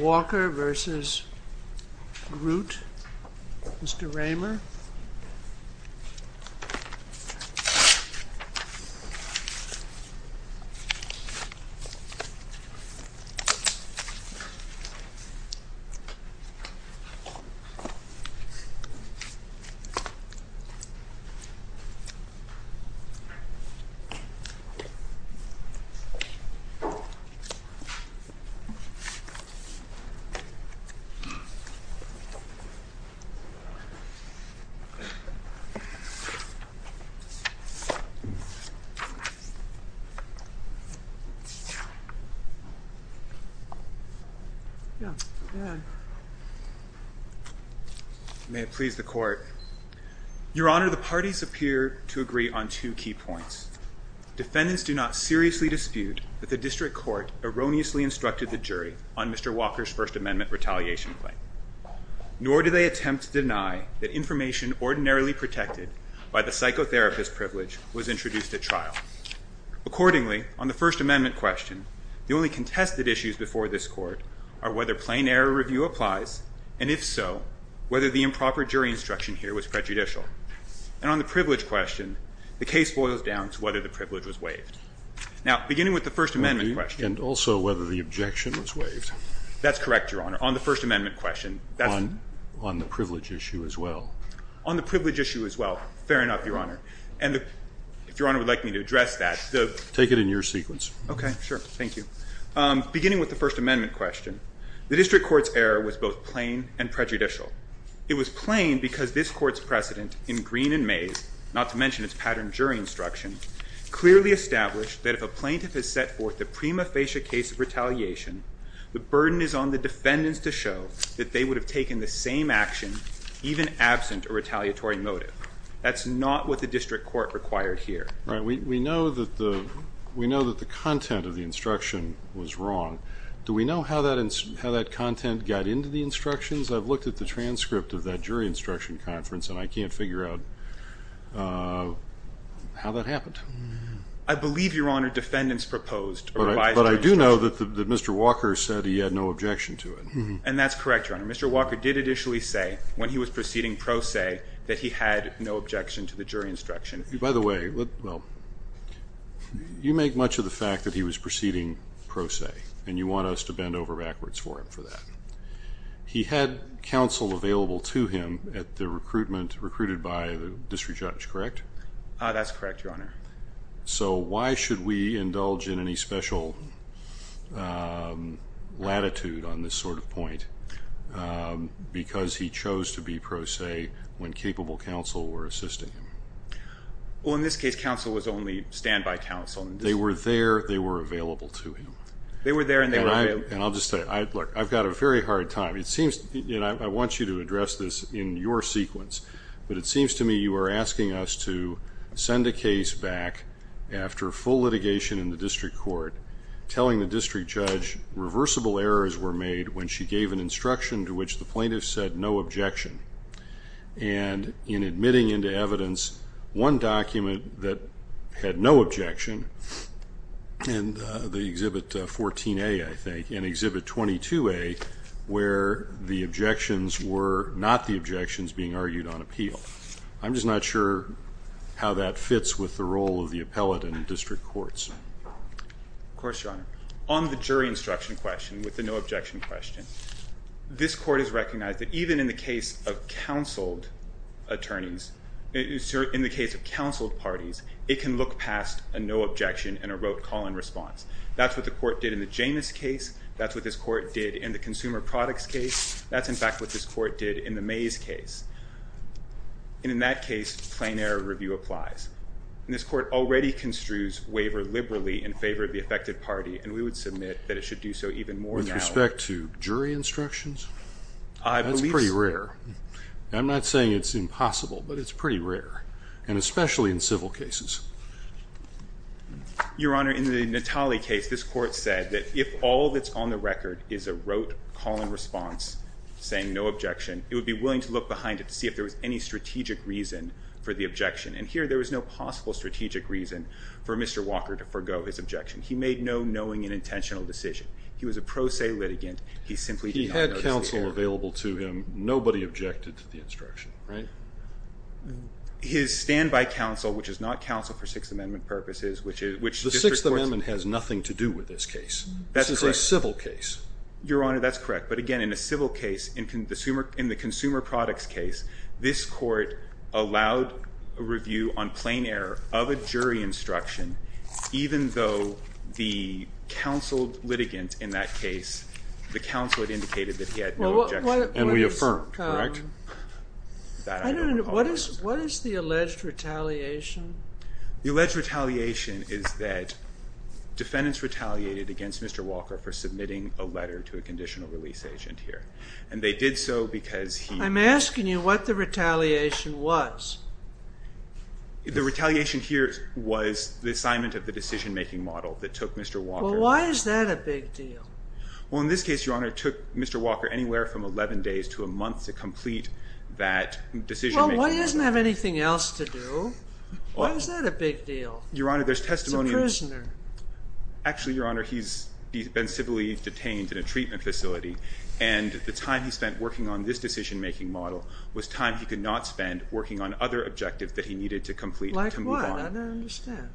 Walker v. Groot May it please the Court. Your Honor, the parties appear to agree on two key points. Defendants do not seriously dispute that the district court erroneously instructed the jury on Mr. Walker's First Amendment retaliation claim. Nor do they attempt to deny that information ordinarily protected by the psychotherapist privilege was introduced at trial. Accordingly, on the First Amendment question, the only contested issues before this court are whether plain error review applies, and if so, whether the improper jury instruction here was prejudicial. And on the privilege question, the case boils down to whether the privilege was waived. Now, beginning with the First Amendment question. And also whether the objection was waived. That's correct, Your Honor. On the First Amendment question. On the privilege issue as well. On the privilege issue as well. Fair enough, Your Honor. And if Your Honor would like me to address that. Take it in your sequence. OK, sure. Thank you. Beginning with the First Amendment question, the district court's error was both plain and prejudicial. It was plain because this court's precedent in Green and Mays, not to mention its patterned jury instruction, clearly established that if a plaintiff has set forth the prima facie case of retaliation, the burden is on the defendants to show that they would have taken the same action, even absent a retaliatory motive. That's not what the district court required here. Right, we know that the content of the instruction was wrong. Do we know how that content got into the instructions? I've looked at the transcript of that jury instruction conference, and I can't figure out how that happened. I believe, Your Honor, defendants proposed a revised instruction. But I do know that Mr. Walker said he had no objection to it. And that's correct, Your Honor. Mr. Walker did initially say, when he was proceeding pro se, that he had no objection to the jury instruction. By the way, you make much of the fact that he was proceeding pro se, and you want us to bend over backwards for him for that. He had counsel available to him at the recruitment, recruited by the district judge, correct? That's correct, Your Honor. So why should we indulge in any special latitude on this sort of point? Because he chose to be pro se when capable counsel were assisting him. Well, in this case, counsel was only standby counsel. They were there. They were available to him. They were there, and they were available. And I'll just say, look, I've got a very hard time. It seems, and I want you to address this in your sequence, but it seems to me you are asking us to send a case back after full litigation in the district court, telling the district judge reversible errors were made when she gave an instruction to which the plaintiff said no objection. And in admitting into evidence one document that had no objection, in the Exhibit 14A, I think, in Exhibit 22A, where the objections were not the objections being argued on appeal. I'm just not sure how that fits with the role of the appellate in district courts. Of course, Your Honor. On the jury instruction question, with the no objection question, this court has recognized that even in the case of counseled attorneys, in the case of counseled parties, it can look past a no objection and a wrote call-in response. That's what the court did in the Janus case. That's what this court did in the consumer products case. That's, in fact, what this court did in the Mays case. And in that case, plain error review applies. And this court already construes waiver liberally in favor of the affected party, and we would submit that it should do so even more now. With respect to jury instructions? That's pretty rare. I'm not saying it's impossible, but it's pretty rare, and especially in civil cases. Your Honor, in the Natale case, this court said that if all that's on the record is a wrote call-in response saying no objection, it would be willing to look behind it to see if there was any strategic reason for the objection. And here, there was no possible strategic reason for Mr. Walker to forgo his objection. He made no knowing and intentional decision. He was a pro se litigant. He simply did not notice the error. He had counsel available to him. Nobody objected to the instruction, right? His stand-by counsel, which is not counsel for Sixth Amendment purposes, which is which The Sixth Amendment has nothing to do with this case. That's correct. This is a civil case. Your Honor, that's correct. But again, in a civil case, in the consumer products case, this court allowed a review on plain error of a jury instruction, even though the counseled litigant in that case, the counsel had indicated that he had no objection. And we affirmed, correct? That I don't recall. What is the alleged retaliation? The alleged retaliation is that defendants retaliated against Mr. Walker for submitting a letter to a conditional release agent here. And they did so because he was. I'm asking you what the retaliation was. The retaliation here was the assignment of the decision-making model that took Mr. Walker. Well, why is that a big deal? took Mr. Walker anywhere from 11 days to a month to complete that decision-making model. Well, why doesn't he have anything else to do? Why is that a big deal? Your Honor, there's testimonials. He's a prisoner. Actually, Your Honor, he's been civilly detained in a treatment facility. And the time he spent working on this decision-making model was time he could not spend working on other objectives that he needed to complete to move on. Like what? I don't understand.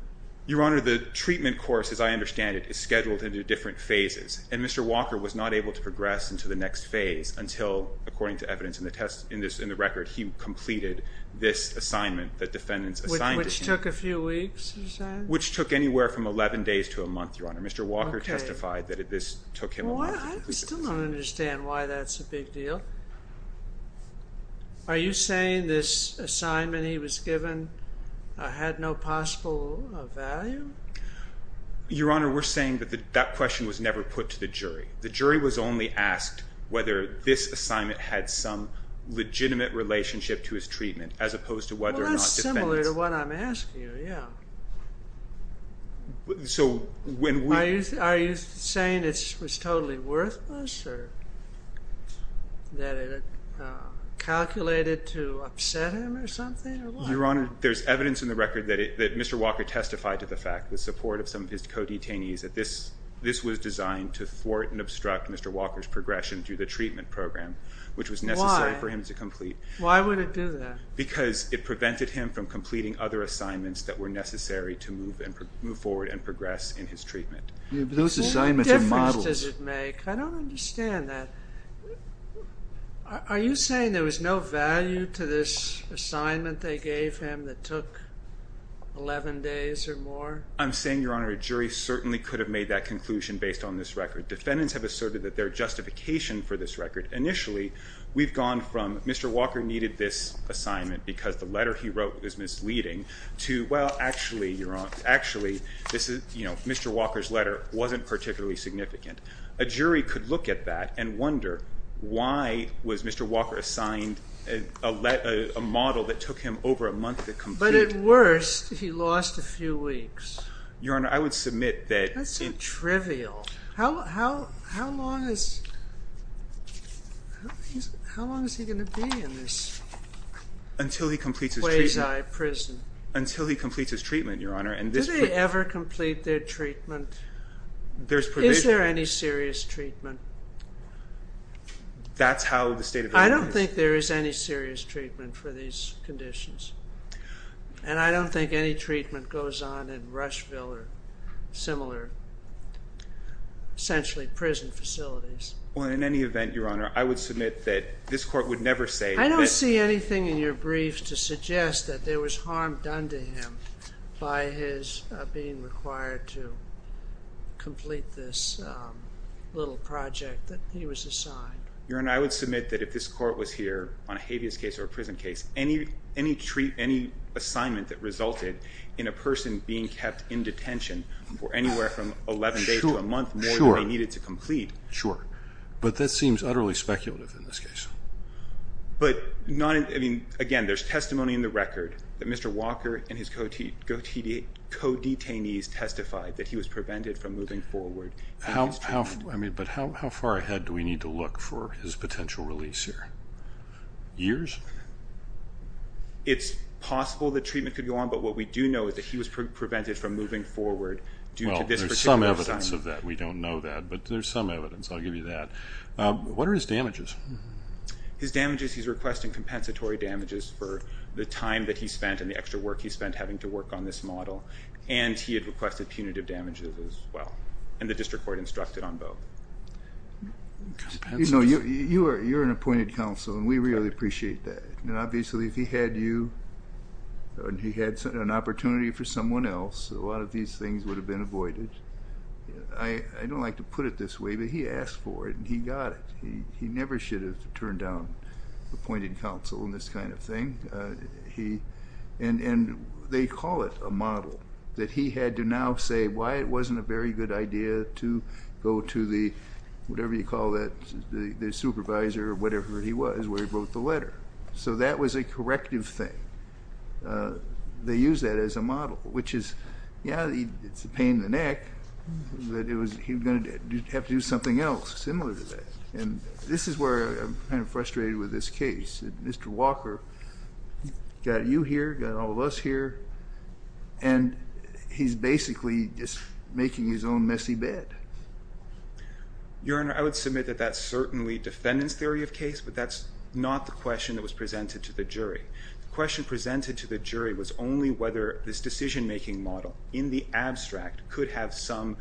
Your Honor, the treatment course, as I understand it, is scheduled into different phases. And Mr. Walker was not able to progress into the next phase until, according to evidence in the test, in the record, he completed this assignment that defendants assigned to him. Which took a few weeks, you said? Which took anywhere from 11 days to a month, Your Honor. Mr. Walker testified that this took him a month to complete this assignment. Well, I still don't understand why that's a big deal. Are you saying this assignment he was given had no possible value? Your Honor, we're saying that that question was never put to the jury. The jury was only asked whether this assignment had some legitimate relationship to his treatment, as opposed to whether or not defendants. Well, that's similar to what I'm asking you, yeah. So when we- Are you saying it was totally worthless, or that it calculated to upset him or something, or what? Your Honor, there's evidence in the record that Mr. Walker testified to the fact, the support of some of his co-detainees, that this was designed to thwart and obstruct Mr. Walker's progression through the treatment program, which was necessary for him to complete. Why would it do that? Because it prevented him from completing other assignments that were necessary to move forward and progress in his treatment. Yeah, but those assignments are models. What difference does it make? I don't understand that. Are you saying there was no value to this assignment they gave him that took 11 days or more? I'm saying, Your Honor, a jury certainly could have made that conclusion based on this record. Defendants have asserted that there are justification for this record. Initially, we've gone from Mr. Walker needed this assignment because the letter he wrote was misleading, to well, actually, Your Honor, actually, Mr. Walker's letter wasn't particularly significant. A jury could look at that and wonder, why was Mr. Walker assigned a model that took him over a month to complete? But at worst, he lost a few weeks. Your Honor, I would submit that in- That's so trivial. How long is he going to be in this- Until he completes his treatment. Way's Eye Prison. Until he completes his treatment, Your Honor. Do they ever complete their treatment? There's provision. Is there any serious treatment? That's how the state of it is. I don't think there is any serious treatment for these conditions. And I don't think any treatment goes on in Rushville or similar, essentially, prison facilities. Well, in any event, Your Honor, I would submit that this court would never say that- I don't see anything in your briefs to suggest that there was harm done to him by his being required to complete this little project that he was assigned. Your Honor, I would submit that if this court was here on a habeas case or a prison case, any treatment, any assignment that resulted in a person being kept in detention for anywhere from 11 days to a month more than they needed to complete- Sure. But that seems utterly speculative in this case. But, again, there's testimony in the record that Mr. Walker and his co-detainees testified that he was prevented from moving forward in his treatment. But how far ahead do we need to look for his potential release here? Years? It's possible that treatment could go on. But what we do know is that he was prevented from moving forward due to this particular assignment. Well, there's some evidence of that. We don't know that. But there's some evidence. I'll give you that. What are his damages? His damages, he's requesting compensatory damages for the time that he spent and the extra work he spent having to work on this model. And he had requested punitive damages, as well. And the district court instructed on both. Compensatory damages? You're an appointed counsel. And we really appreciate that. Now, obviously, if he had you and he had an opportunity for someone else, a lot of these things would have been avoided. I don't like to put it this way, but he asked for it. And he got it. He never should have turned down appointed counsel in this kind of thing. And they call it a model, that he had to now say why it wasn't a very good idea to go to the, whatever you call that, the supervisor, or whatever he was, where he wrote the letter. So that was a corrective thing. They use that as a model, which is, yeah, it's a pain in the neck that he was going to have to do something else similar to that. And this is where I'm kind of frustrated with this case. Mr. Walker got you here, got all of us here. And he's basically just making his own messy bed. Your Honor, I would submit that that's certainly defendant's theory of case. But that's not the question that was presented to the jury. The question presented to the jury was only whether this decision-making model, in the abstract, could have some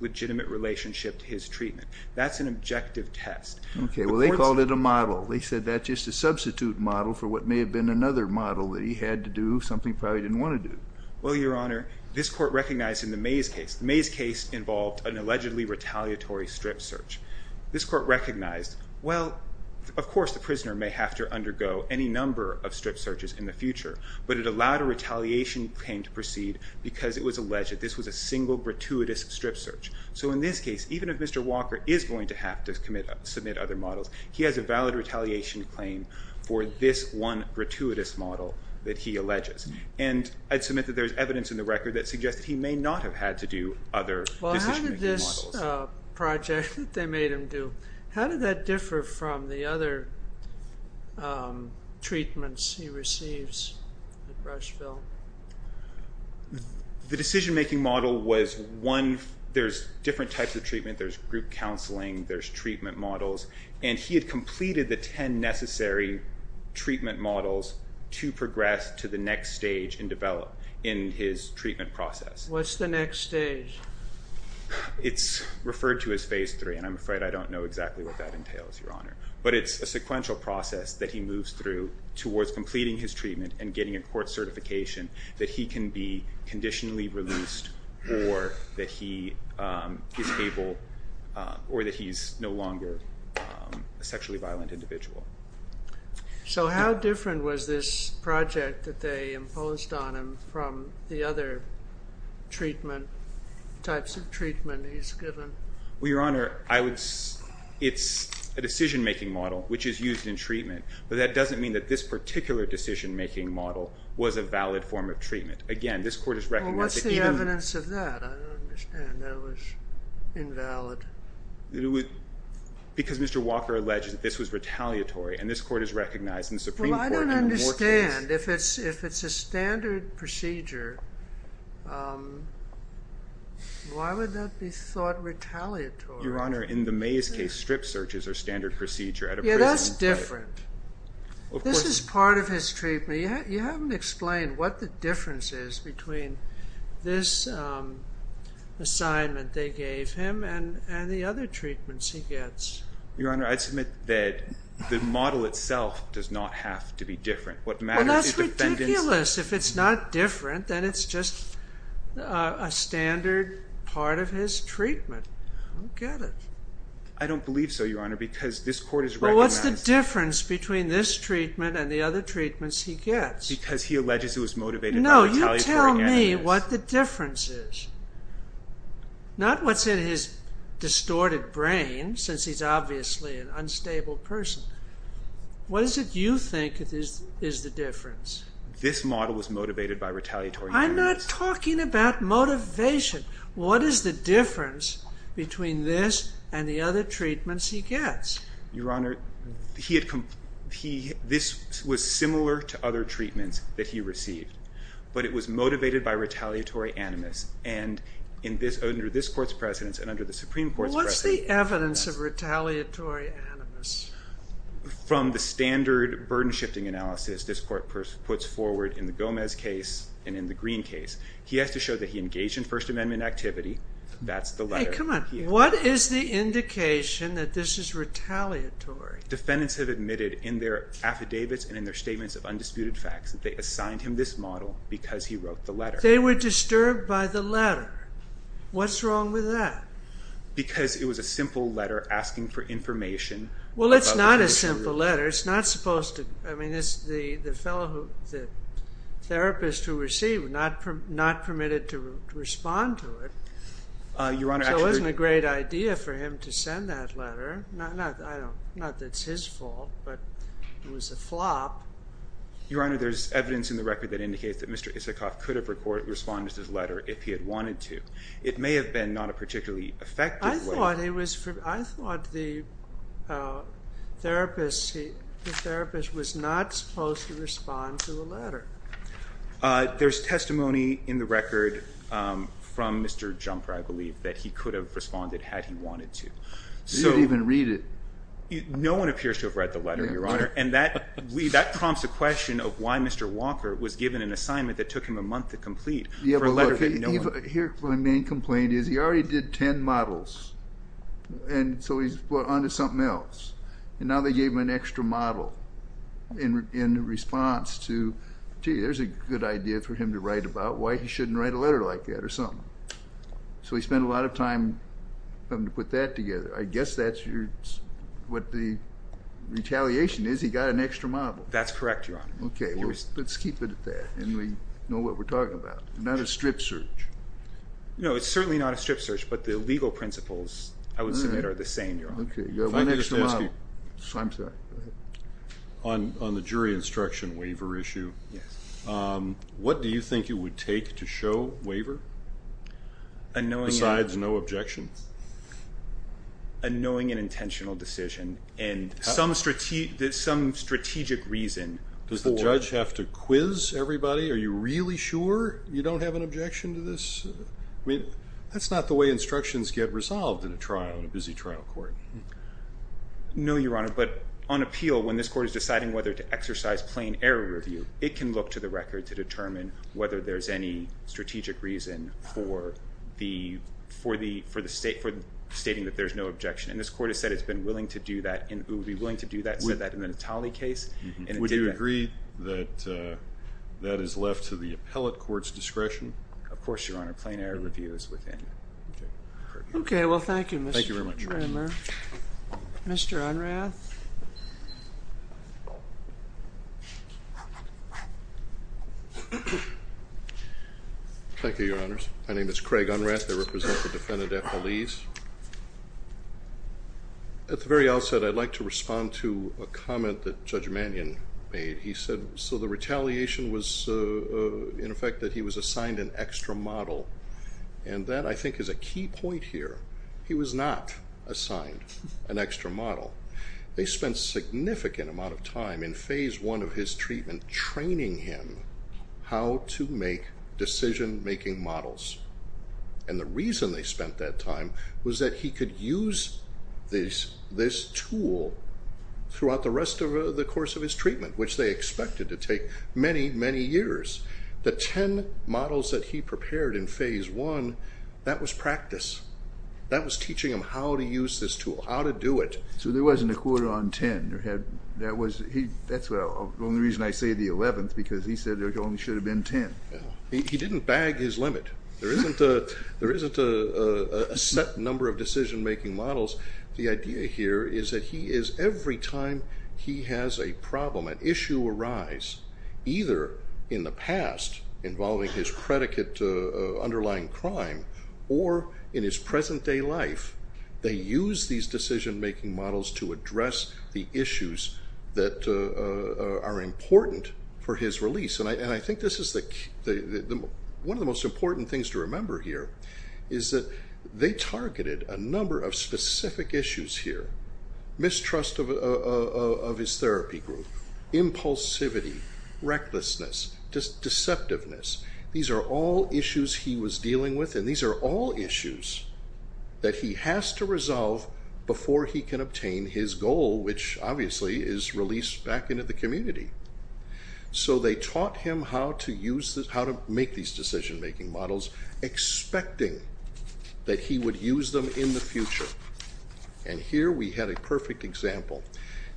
legitimate relationship to his treatment. That's an objective test. OK, well, they called it a model. They said that's just a substitute model for what may have been another model that he had to do, something he probably didn't want to do. Well, Your Honor, this court recognized in the Mays case, the Mays case involved an allegedly retaliatory strip search. This court recognized, well, of course, the prisoner may have to undergo any number of strip searches in the future. But it allowed a retaliation claim to proceed because it was alleged that this was a single gratuitous strip search. So in this case, even if Mr. Walker is going to have to submit other models, he has a valid retaliation claim for this one gratuitous model that he alleges. And I'd submit that there's evidence in the record that suggests he may not have had to do other decision-making models. Well, how did this project that they made him do, how did that differ from the other treatments he receives at Brushville? The decision-making model was one, there's different types of treatment. There's group counseling. There's treatment models. And he had completed the 10 necessary treatment models, to progress to the next stage and develop in his treatment process. What's the next stage? It's referred to as phase three. And I'm afraid I don't know exactly what that entails, Your Honor. But it's a sequential process that he moves through towards completing his treatment and getting a court certification that he can be conditionally released or that he is able or that he's no longer a sexually violent individual. So how different was this project that they imposed on him from the other treatment, types of treatment he's given? Well, Your Honor, it's a decision-making model, which is used in treatment. But that doesn't mean that this particular decision-making model was a valid form of treatment. Again, this court has recognized that even- Well, what's the evidence of that? I don't understand. That it was invalid. It was because Mr. Walker alleged that this was retaliatory. And this court has recognized in the Supreme Court in the Moore case. Well, I don't understand. If it's a standard procedure, why would that be thought retaliatory? Your Honor, in the Mays case, strip searches are standard procedure at a prison. Yeah, that's different. This is part of his treatment. You haven't explained what the difference is between this assignment they gave him and the other treatments he gets. Your Honor, I'd submit that the model itself does not have to be different. What matters is defendants- Well, that's ridiculous. If it's not different, then it's just a standard part of his treatment. I don't get it. I don't believe so, Your Honor, because this court has recognized- Well, what's the difference between this treatment and the other treatments he gets? Because he alleges it was motivated by retaliatory enemies. No, you tell me what the difference is. Not what's in his distorted brain, since he's obviously an unstable person. What is it you think is the difference? This model was motivated by retaliatory enemies. I'm not talking about motivation. What is the difference between this and the other treatments he gets? Your Honor, this was similar to other treatments that he received, but it was motivated by retaliatory enemies. Under this court's precedence and under the Supreme Court's precedence- What's the evidence of retaliatory enemies? From the standard burden shifting analysis this court puts forward in the Gomez case and in the Green case, he has to show that he engaged in First Amendment activity. That's the letter. Hey, come on. What is the indication that this is retaliatory? Defendants have admitted in their affidavits and in their statements of undisputed facts that they assigned him this model because he wrote the letter. They were disturbed by the letter. What's wrong with that? Because it was a simple letter asking for information. Well, it's not a simple letter. It's not supposed to. I mean, the therapist who received was not permitted to respond to it. Your Honor, actually- So it wasn't a great idea for him to send that letter. Not that it's his fault, but it was a flop. Your Honor, there's evidence in the record that indicates that Mr. Isikoff could have responded to this letter if he had wanted to. It may have been not a particularly effective way. I thought the therapist was not supposed to respond to the letter. There's testimony in the record from Mr. Jumper, I believe, that he could have responded had he wanted to. You didn't even read it. No one appears to have read the letter, Your Honor. And that prompts a question of why Mr. Walker was given an assignment that took him a month to complete for a letter that no one- Here, my main complaint is he already did 10 models. And so he's on to something else. And now they gave him an extra model in response to, gee, there's a good idea for him to write about. Why he shouldn't write a letter like that or something. So he spent a lot of time having to put that together. I guess that's what the retaliation is. He got an extra model. That's correct, Your Honor. Let's keep it at that. And we know what we're talking about. Not a strip search. No, it's certainly not a strip search. But the legal principles, I would submit, are the same, Your Honor. You got one extra model. I'm sorry. On the jury instruction waiver issue, what do you think it would take to show waiver besides no objection? A knowing and intentional decision. And some strategic reason. Does the judge have to quiz everybody? Are you really sure you don't have an objection to this? That's not the way instructions get resolved in a trial, in a busy trial court. No, Your Honor. But on appeal, when this court is deciding whether to exercise plain error review, it can look to the record to determine whether there's any strategic reason for stating that there's no objection. And this court has said it's been willing to do that. And it would be willing to do that in the Natale case. Would you agree that that is left to the appellate court's discretion? Of course, Your Honor. Plain error review is within. OK, well, thank you, Mr. Kramer. Mr. Unrath. Thank you, Your Honors. My name is Craig Unrath. I represent the defendant at Belize. At the very outset, I'd like to respond to a comment that Judge Mannion made. He said, so the retaliation was, in effect, that he was assigned an extra model. And that, I think, is a key point here. He was not assigned an extra model. They spent a significant amount of time in phase one of his treatment training him how to make decision-making models. And the reason they spent that time was that he could use this tool throughout the rest of the course of his treatment, which they expected to take many, many years. The 10 models that he prepared in phase one, that was practice. That was teaching him how to use this tool, how to do it. So there wasn't a quota on 10. That's the only reason I say the 11th, because he said there only should have been 10. He didn't bag his limit. There isn't a set number of decision-making models. The idea here is that every time he has a problem, an issue arise, either in the past, involving his predicate underlying crime, or in his present day life, they use these decision-making models to address the issues that are important for his release. And I think this is one of the most important things to remember here, is that they targeted a number of specific issues here. Mistrust of his therapy group, impulsivity, recklessness, deceptiveness. These are all issues he was dealing with. And these are all issues that he has to resolve before he can obtain his goal, which obviously is released back into the community. So they taught him how to make these decision-making models, expecting that he would use them in the future. And here we had a perfect example.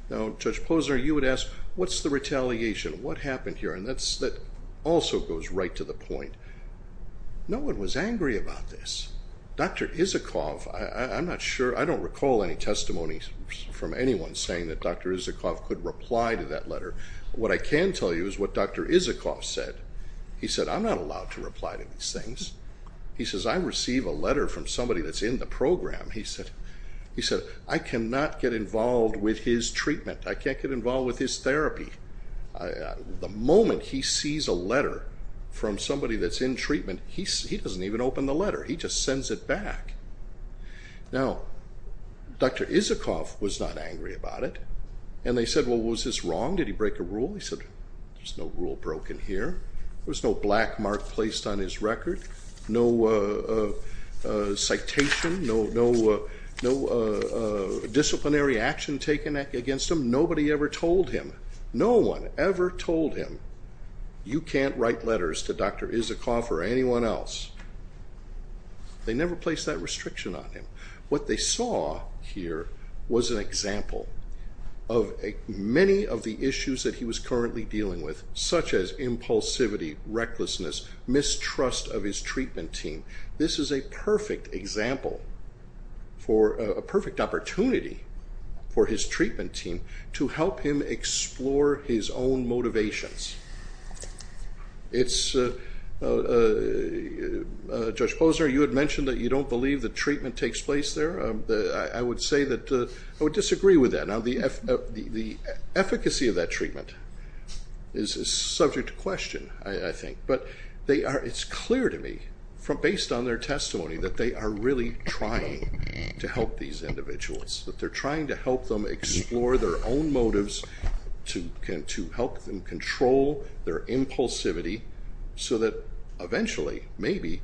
Now, Judge Posner, you would ask, what's the retaliation? What happened here? And that also goes right to the point. No one was angry about this. Dr. Isikoff, I'm not sure. I don't recall any testimonies from anyone saying that Dr. Isikoff could reply to that letter. What I can tell you is what Dr. Isikoff said. He said, I'm not allowed to reply to these things. He says, I receive a letter from somebody that's in the program. He said, I cannot get involved with his treatment. I can't get involved with his therapy. The moment he sees a letter from somebody that's in treatment, he doesn't even open the letter. He just sends it back. Now, Dr. Isikoff was not angry about it. And they said, well, was this wrong? Did he break a rule? He said, there's no rule broken here. There was no black mark placed on his record, no citation, no disciplinary action taken against him. Nobody ever told him. No one ever told him, you can't write letters to Dr. Isikoff or anyone else. They never placed that restriction on him. What they saw here was an example of many of the issues that he was currently dealing with, such as impulsivity, recklessness, mistrust of his treatment team. This is a perfect example for a perfect opportunity for his treatment team to help him explore his own motivations. Judge Posner, you had mentioned that you don't believe the treatment takes place there. I would say that I would disagree with that. Now, the efficacy of that treatment is subject to question, I think. But it's clear to me, based on their testimony, that they are really trying to help these individuals, that they're trying to help them explore their own motives to help them control their impulsivity, so that eventually, maybe,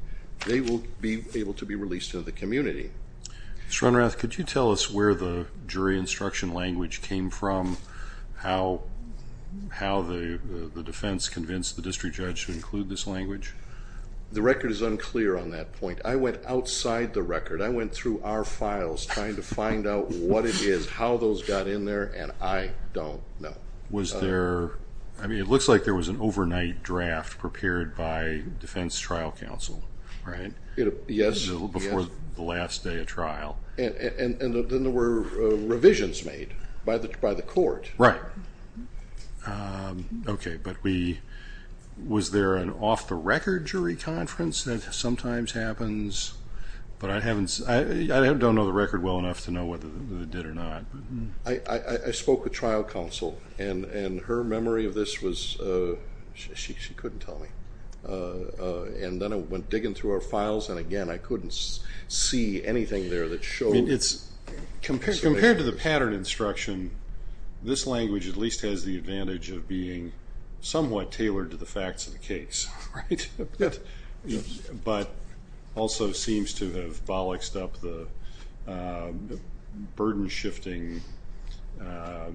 they will be able to be released to the community. Mr. Runrath, could you tell us where the jury instruction language came from, how the defense convinced the district judge to include this language? The record is unclear on that point. I went outside the record. I went through our files, trying to find out what it is, how those got in there. And I don't know. Was there, I mean, it looks like there was an overnight draft prepared by Defense Trial Council, right, before the last day of trial. And then there were revisions made by the court. Right. OK, but was there an off-the-record jury conference? That sometimes happens. But I don't know the record well enough to know whether they did or not. I spoke with Trial Council. And her memory of this was, she couldn't tell me. And then I went digging through our files. And again, I couldn't see anything there that showed. Compared to the pattern instruction, this language at least has the advantage of being somewhat tailored to the facts of the case, right? But also seems to have bolloxed up the burden-shifting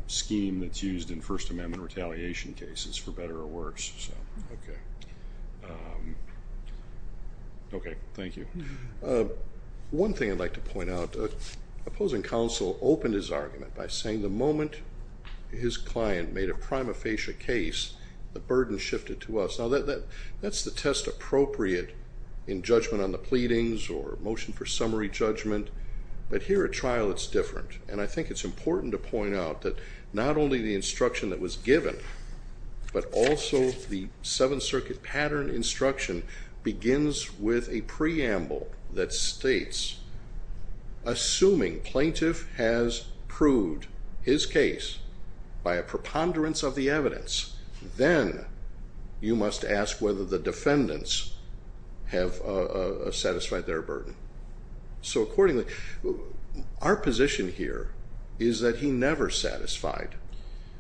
scheme that's used in First Amendment retaliation cases, for better or worse. OK, thank you. One thing I'd like to point out, opposing counsel opened his argument by saying the moment his client made a prima facie case, the burden shifted to us. Now, that's the test appropriate in judgment on the pleadings or motion for summary judgment. But here at trial, it's different. And I think it's important to point out that not only the instruction that was given, but also the Seventh Circuit pattern instruction begins with a preamble that states, assuming plaintiff has proved his case by a preponderance of the evidence, then you must ask whether the defendants have satisfied their burden. So accordingly, our position here is that he never satisfied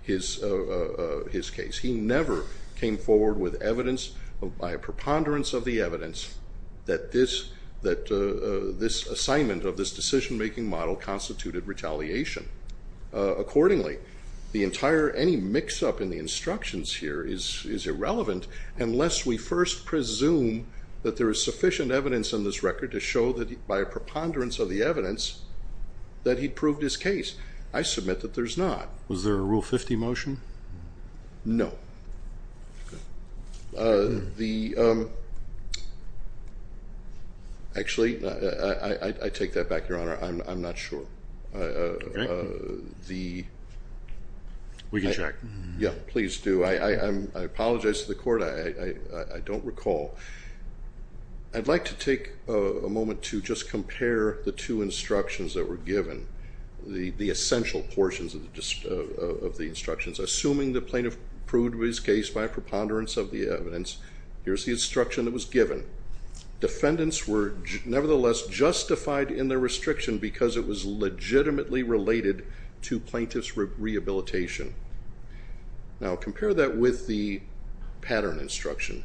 his case. He never came forward with evidence by a preponderance of the evidence that this assignment of this decision-making model constituted retaliation. Accordingly, any mix-up in the instructions here is irrelevant unless we first presume that there is sufficient evidence in this record to show that by a preponderance of the evidence that he proved his case. I submit that there's not. Was there a Rule 50 motion? No. Actually, I take that back, Your Honor. I'm not sure. We can check. Yeah, please do. I apologize to the court. I don't recall. I'd like to take a moment to just compare the two instructions that were given, the essential portions of the instructions. Assuming the plaintiff proved his case by a preponderance of the evidence, here's the instruction that was given. Defendants were nevertheless justified in their restriction because it was legitimately related to plaintiff's rehabilitation. Now compare that with the pattern instruction.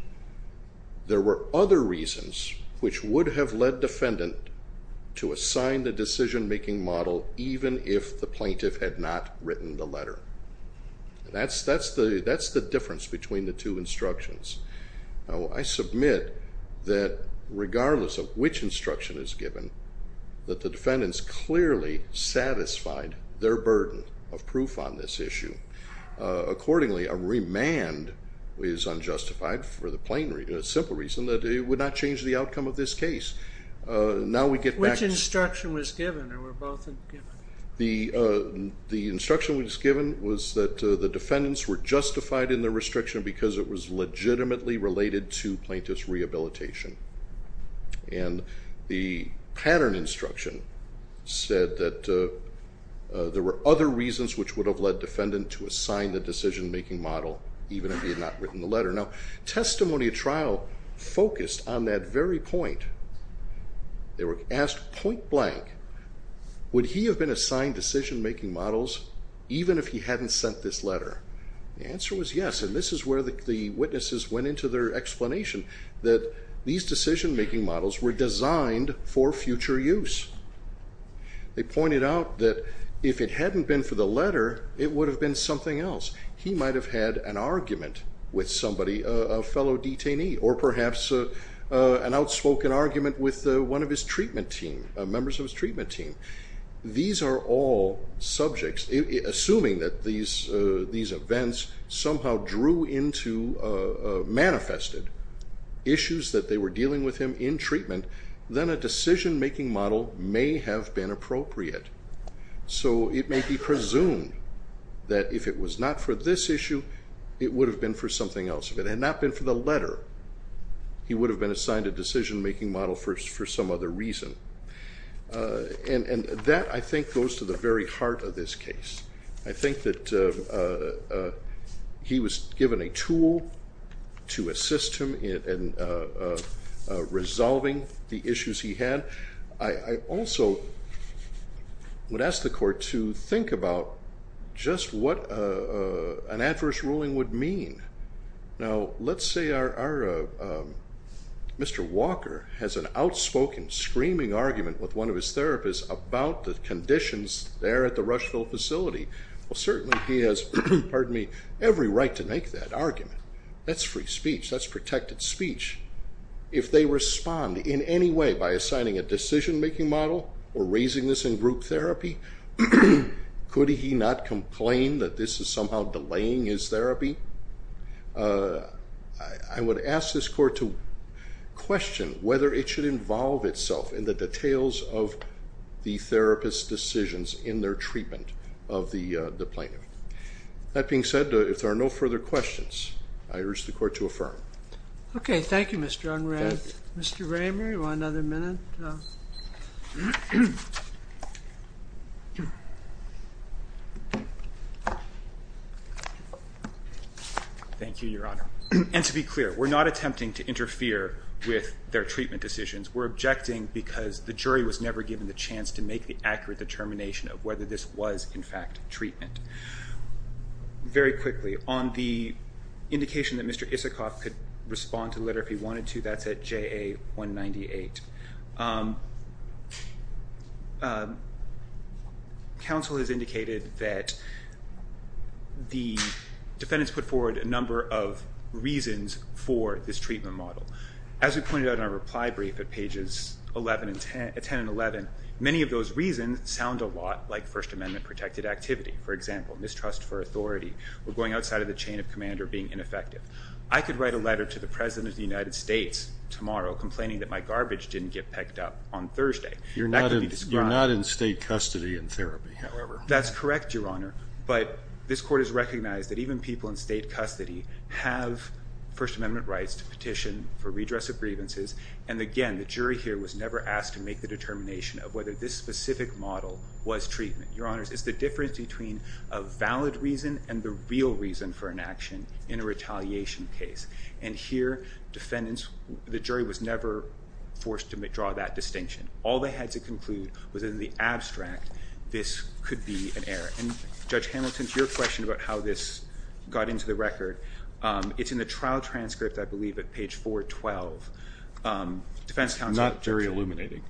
There were other reasons which would have led defendant to assign the decision-making model even if the plaintiff had not written the letter. That's the difference between the two instructions. I submit that regardless of which instruction is given, that the defendants clearly satisfied their burden of proof on this issue. Accordingly, a remand is unjustified for the simple reason that it would not change the outcome of this case. Now we get back to- Which instruction was given, or were both given? The instruction that was given was that the defendants were justified in their restriction because it was legitimately related to plaintiff's rehabilitation. And the pattern instruction said that there were other reasons which would have led defendant to assign the decision-making model even if he had not written the letter. Now testimony at trial focused on that very point. They were asked point blank, would he have been assigned decision-making models even if he hadn't sent this letter? The answer was yes. And this is where the witnesses went into their explanation that these decision-making models were designed for future use. They pointed out that if it hadn't been for the letter, it would have been something else. He might have had an argument with somebody, a fellow detainee, or perhaps an outspoken argument with one of his treatment team, members of his treatment team. These are all subjects. Assuming that these events somehow drew into, manifested issues that they were dealing with him in treatment, then a decision-making model may have been appropriate. So it may be presumed that if it was not for this issue, it would have been for something else. If it had not been for the letter, he would have been assigned a decision-making model for some other reason. And that, I think, goes to the very heart of this case. I think that he was given a tool to assist him in resolving the issues he had. I also would ask the court to think about just what an adverse ruling would mean. Now, let's say Mr. Walker has an outspoken, screaming argument with one of his therapists about the conditions there at the Rushville facility. Well, certainly he has every right to make that argument. That's free speech. That's protected speech. If they respond in any way by assigning a decision-making model or raising this in group therapy, could he not complain that this is somehow delaying his therapy? I would ask this court to question whether it should involve itself in the details of the therapist's decisions in their treatment of the plaintiff. I urge the court to affirm. OK, thank you, Mr. Unruh. Mr. Ramer, you want another minute? Thank you, Your Honor. And to be clear, we're not attempting to interfere with their treatment decisions. We're objecting because the jury was never given the chance to make the accurate determination of whether this was, in fact, treatment. Very quickly, on the indication that Mr. Isikoff could respond to the letter if he wanted to, that's at JA-198. Counsel has indicated that the defendants put forward a number of reasons for this treatment model. As we pointed out in our reply brief at pages 10 and 11, many of those reasons sound a lot like First Amendment protected activity. For example, mistrust for authority or going outside of the chain of command or being ineffective. I could write a letter to the President of the United States tomorrow complaining that my garbage didn't get picked up on Thursday. You're not in state custody in therapy, however. That's correct, Your Honor. But this court has recognized that even people in state custody have First Amendment rights to petition for redress of grievances. And again, the jury here was never asked to make the determination of whether this specific model was treatment. Your Honors, it's the difference between a valid reason and the real reason for an action in a retaliation case. And here, defendants, the jury was never forced to draw that distinction. All they had to conclude was in the abstract, this could be an error. And Judge Hamilton, to your question about how this got into the record, it's in the trial transcript, I believe, at page 412. Defense counsel. Not jury illuminating.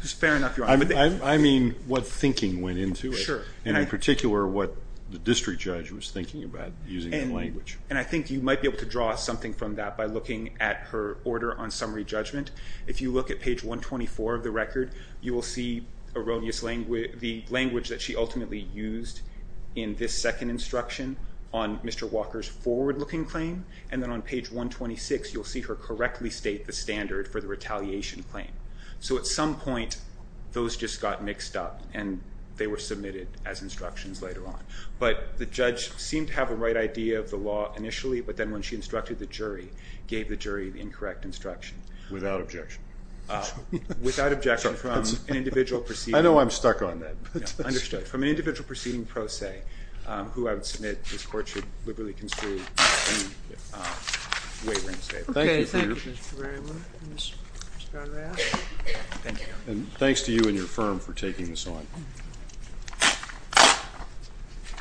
It's fair enough, Your Honor. I mean, what thinking went into it. And in particular, what the district judge was thinking about using the language. And I think you might be able to draw something from that by looking at her order on summary judgment. If you look at page 124 of the record, you will see erroneous language, the language that she ultimately used in this second instruction on Mr. Walker's forward-looking claim. And then on page 126, you'll see her correctly state the standard for the retaliation claim. So at some point, those just got mixed up and they were submitted as instructions later on. But the judge seemed to have a right idea of the law initially. But then when she instructed the jury, gave the jury the incorrect instruction. Without objection. Without objection from an individual proceeding. I know I'm stuck on that. Understood. From an individual proceeding pro se, who I would submit this court should liberally construe any way we're going to say it. OK, thank you, Mr. Barrymore and Ms. Baragayas. Thank you. And thanks to you and your firm for taking this on.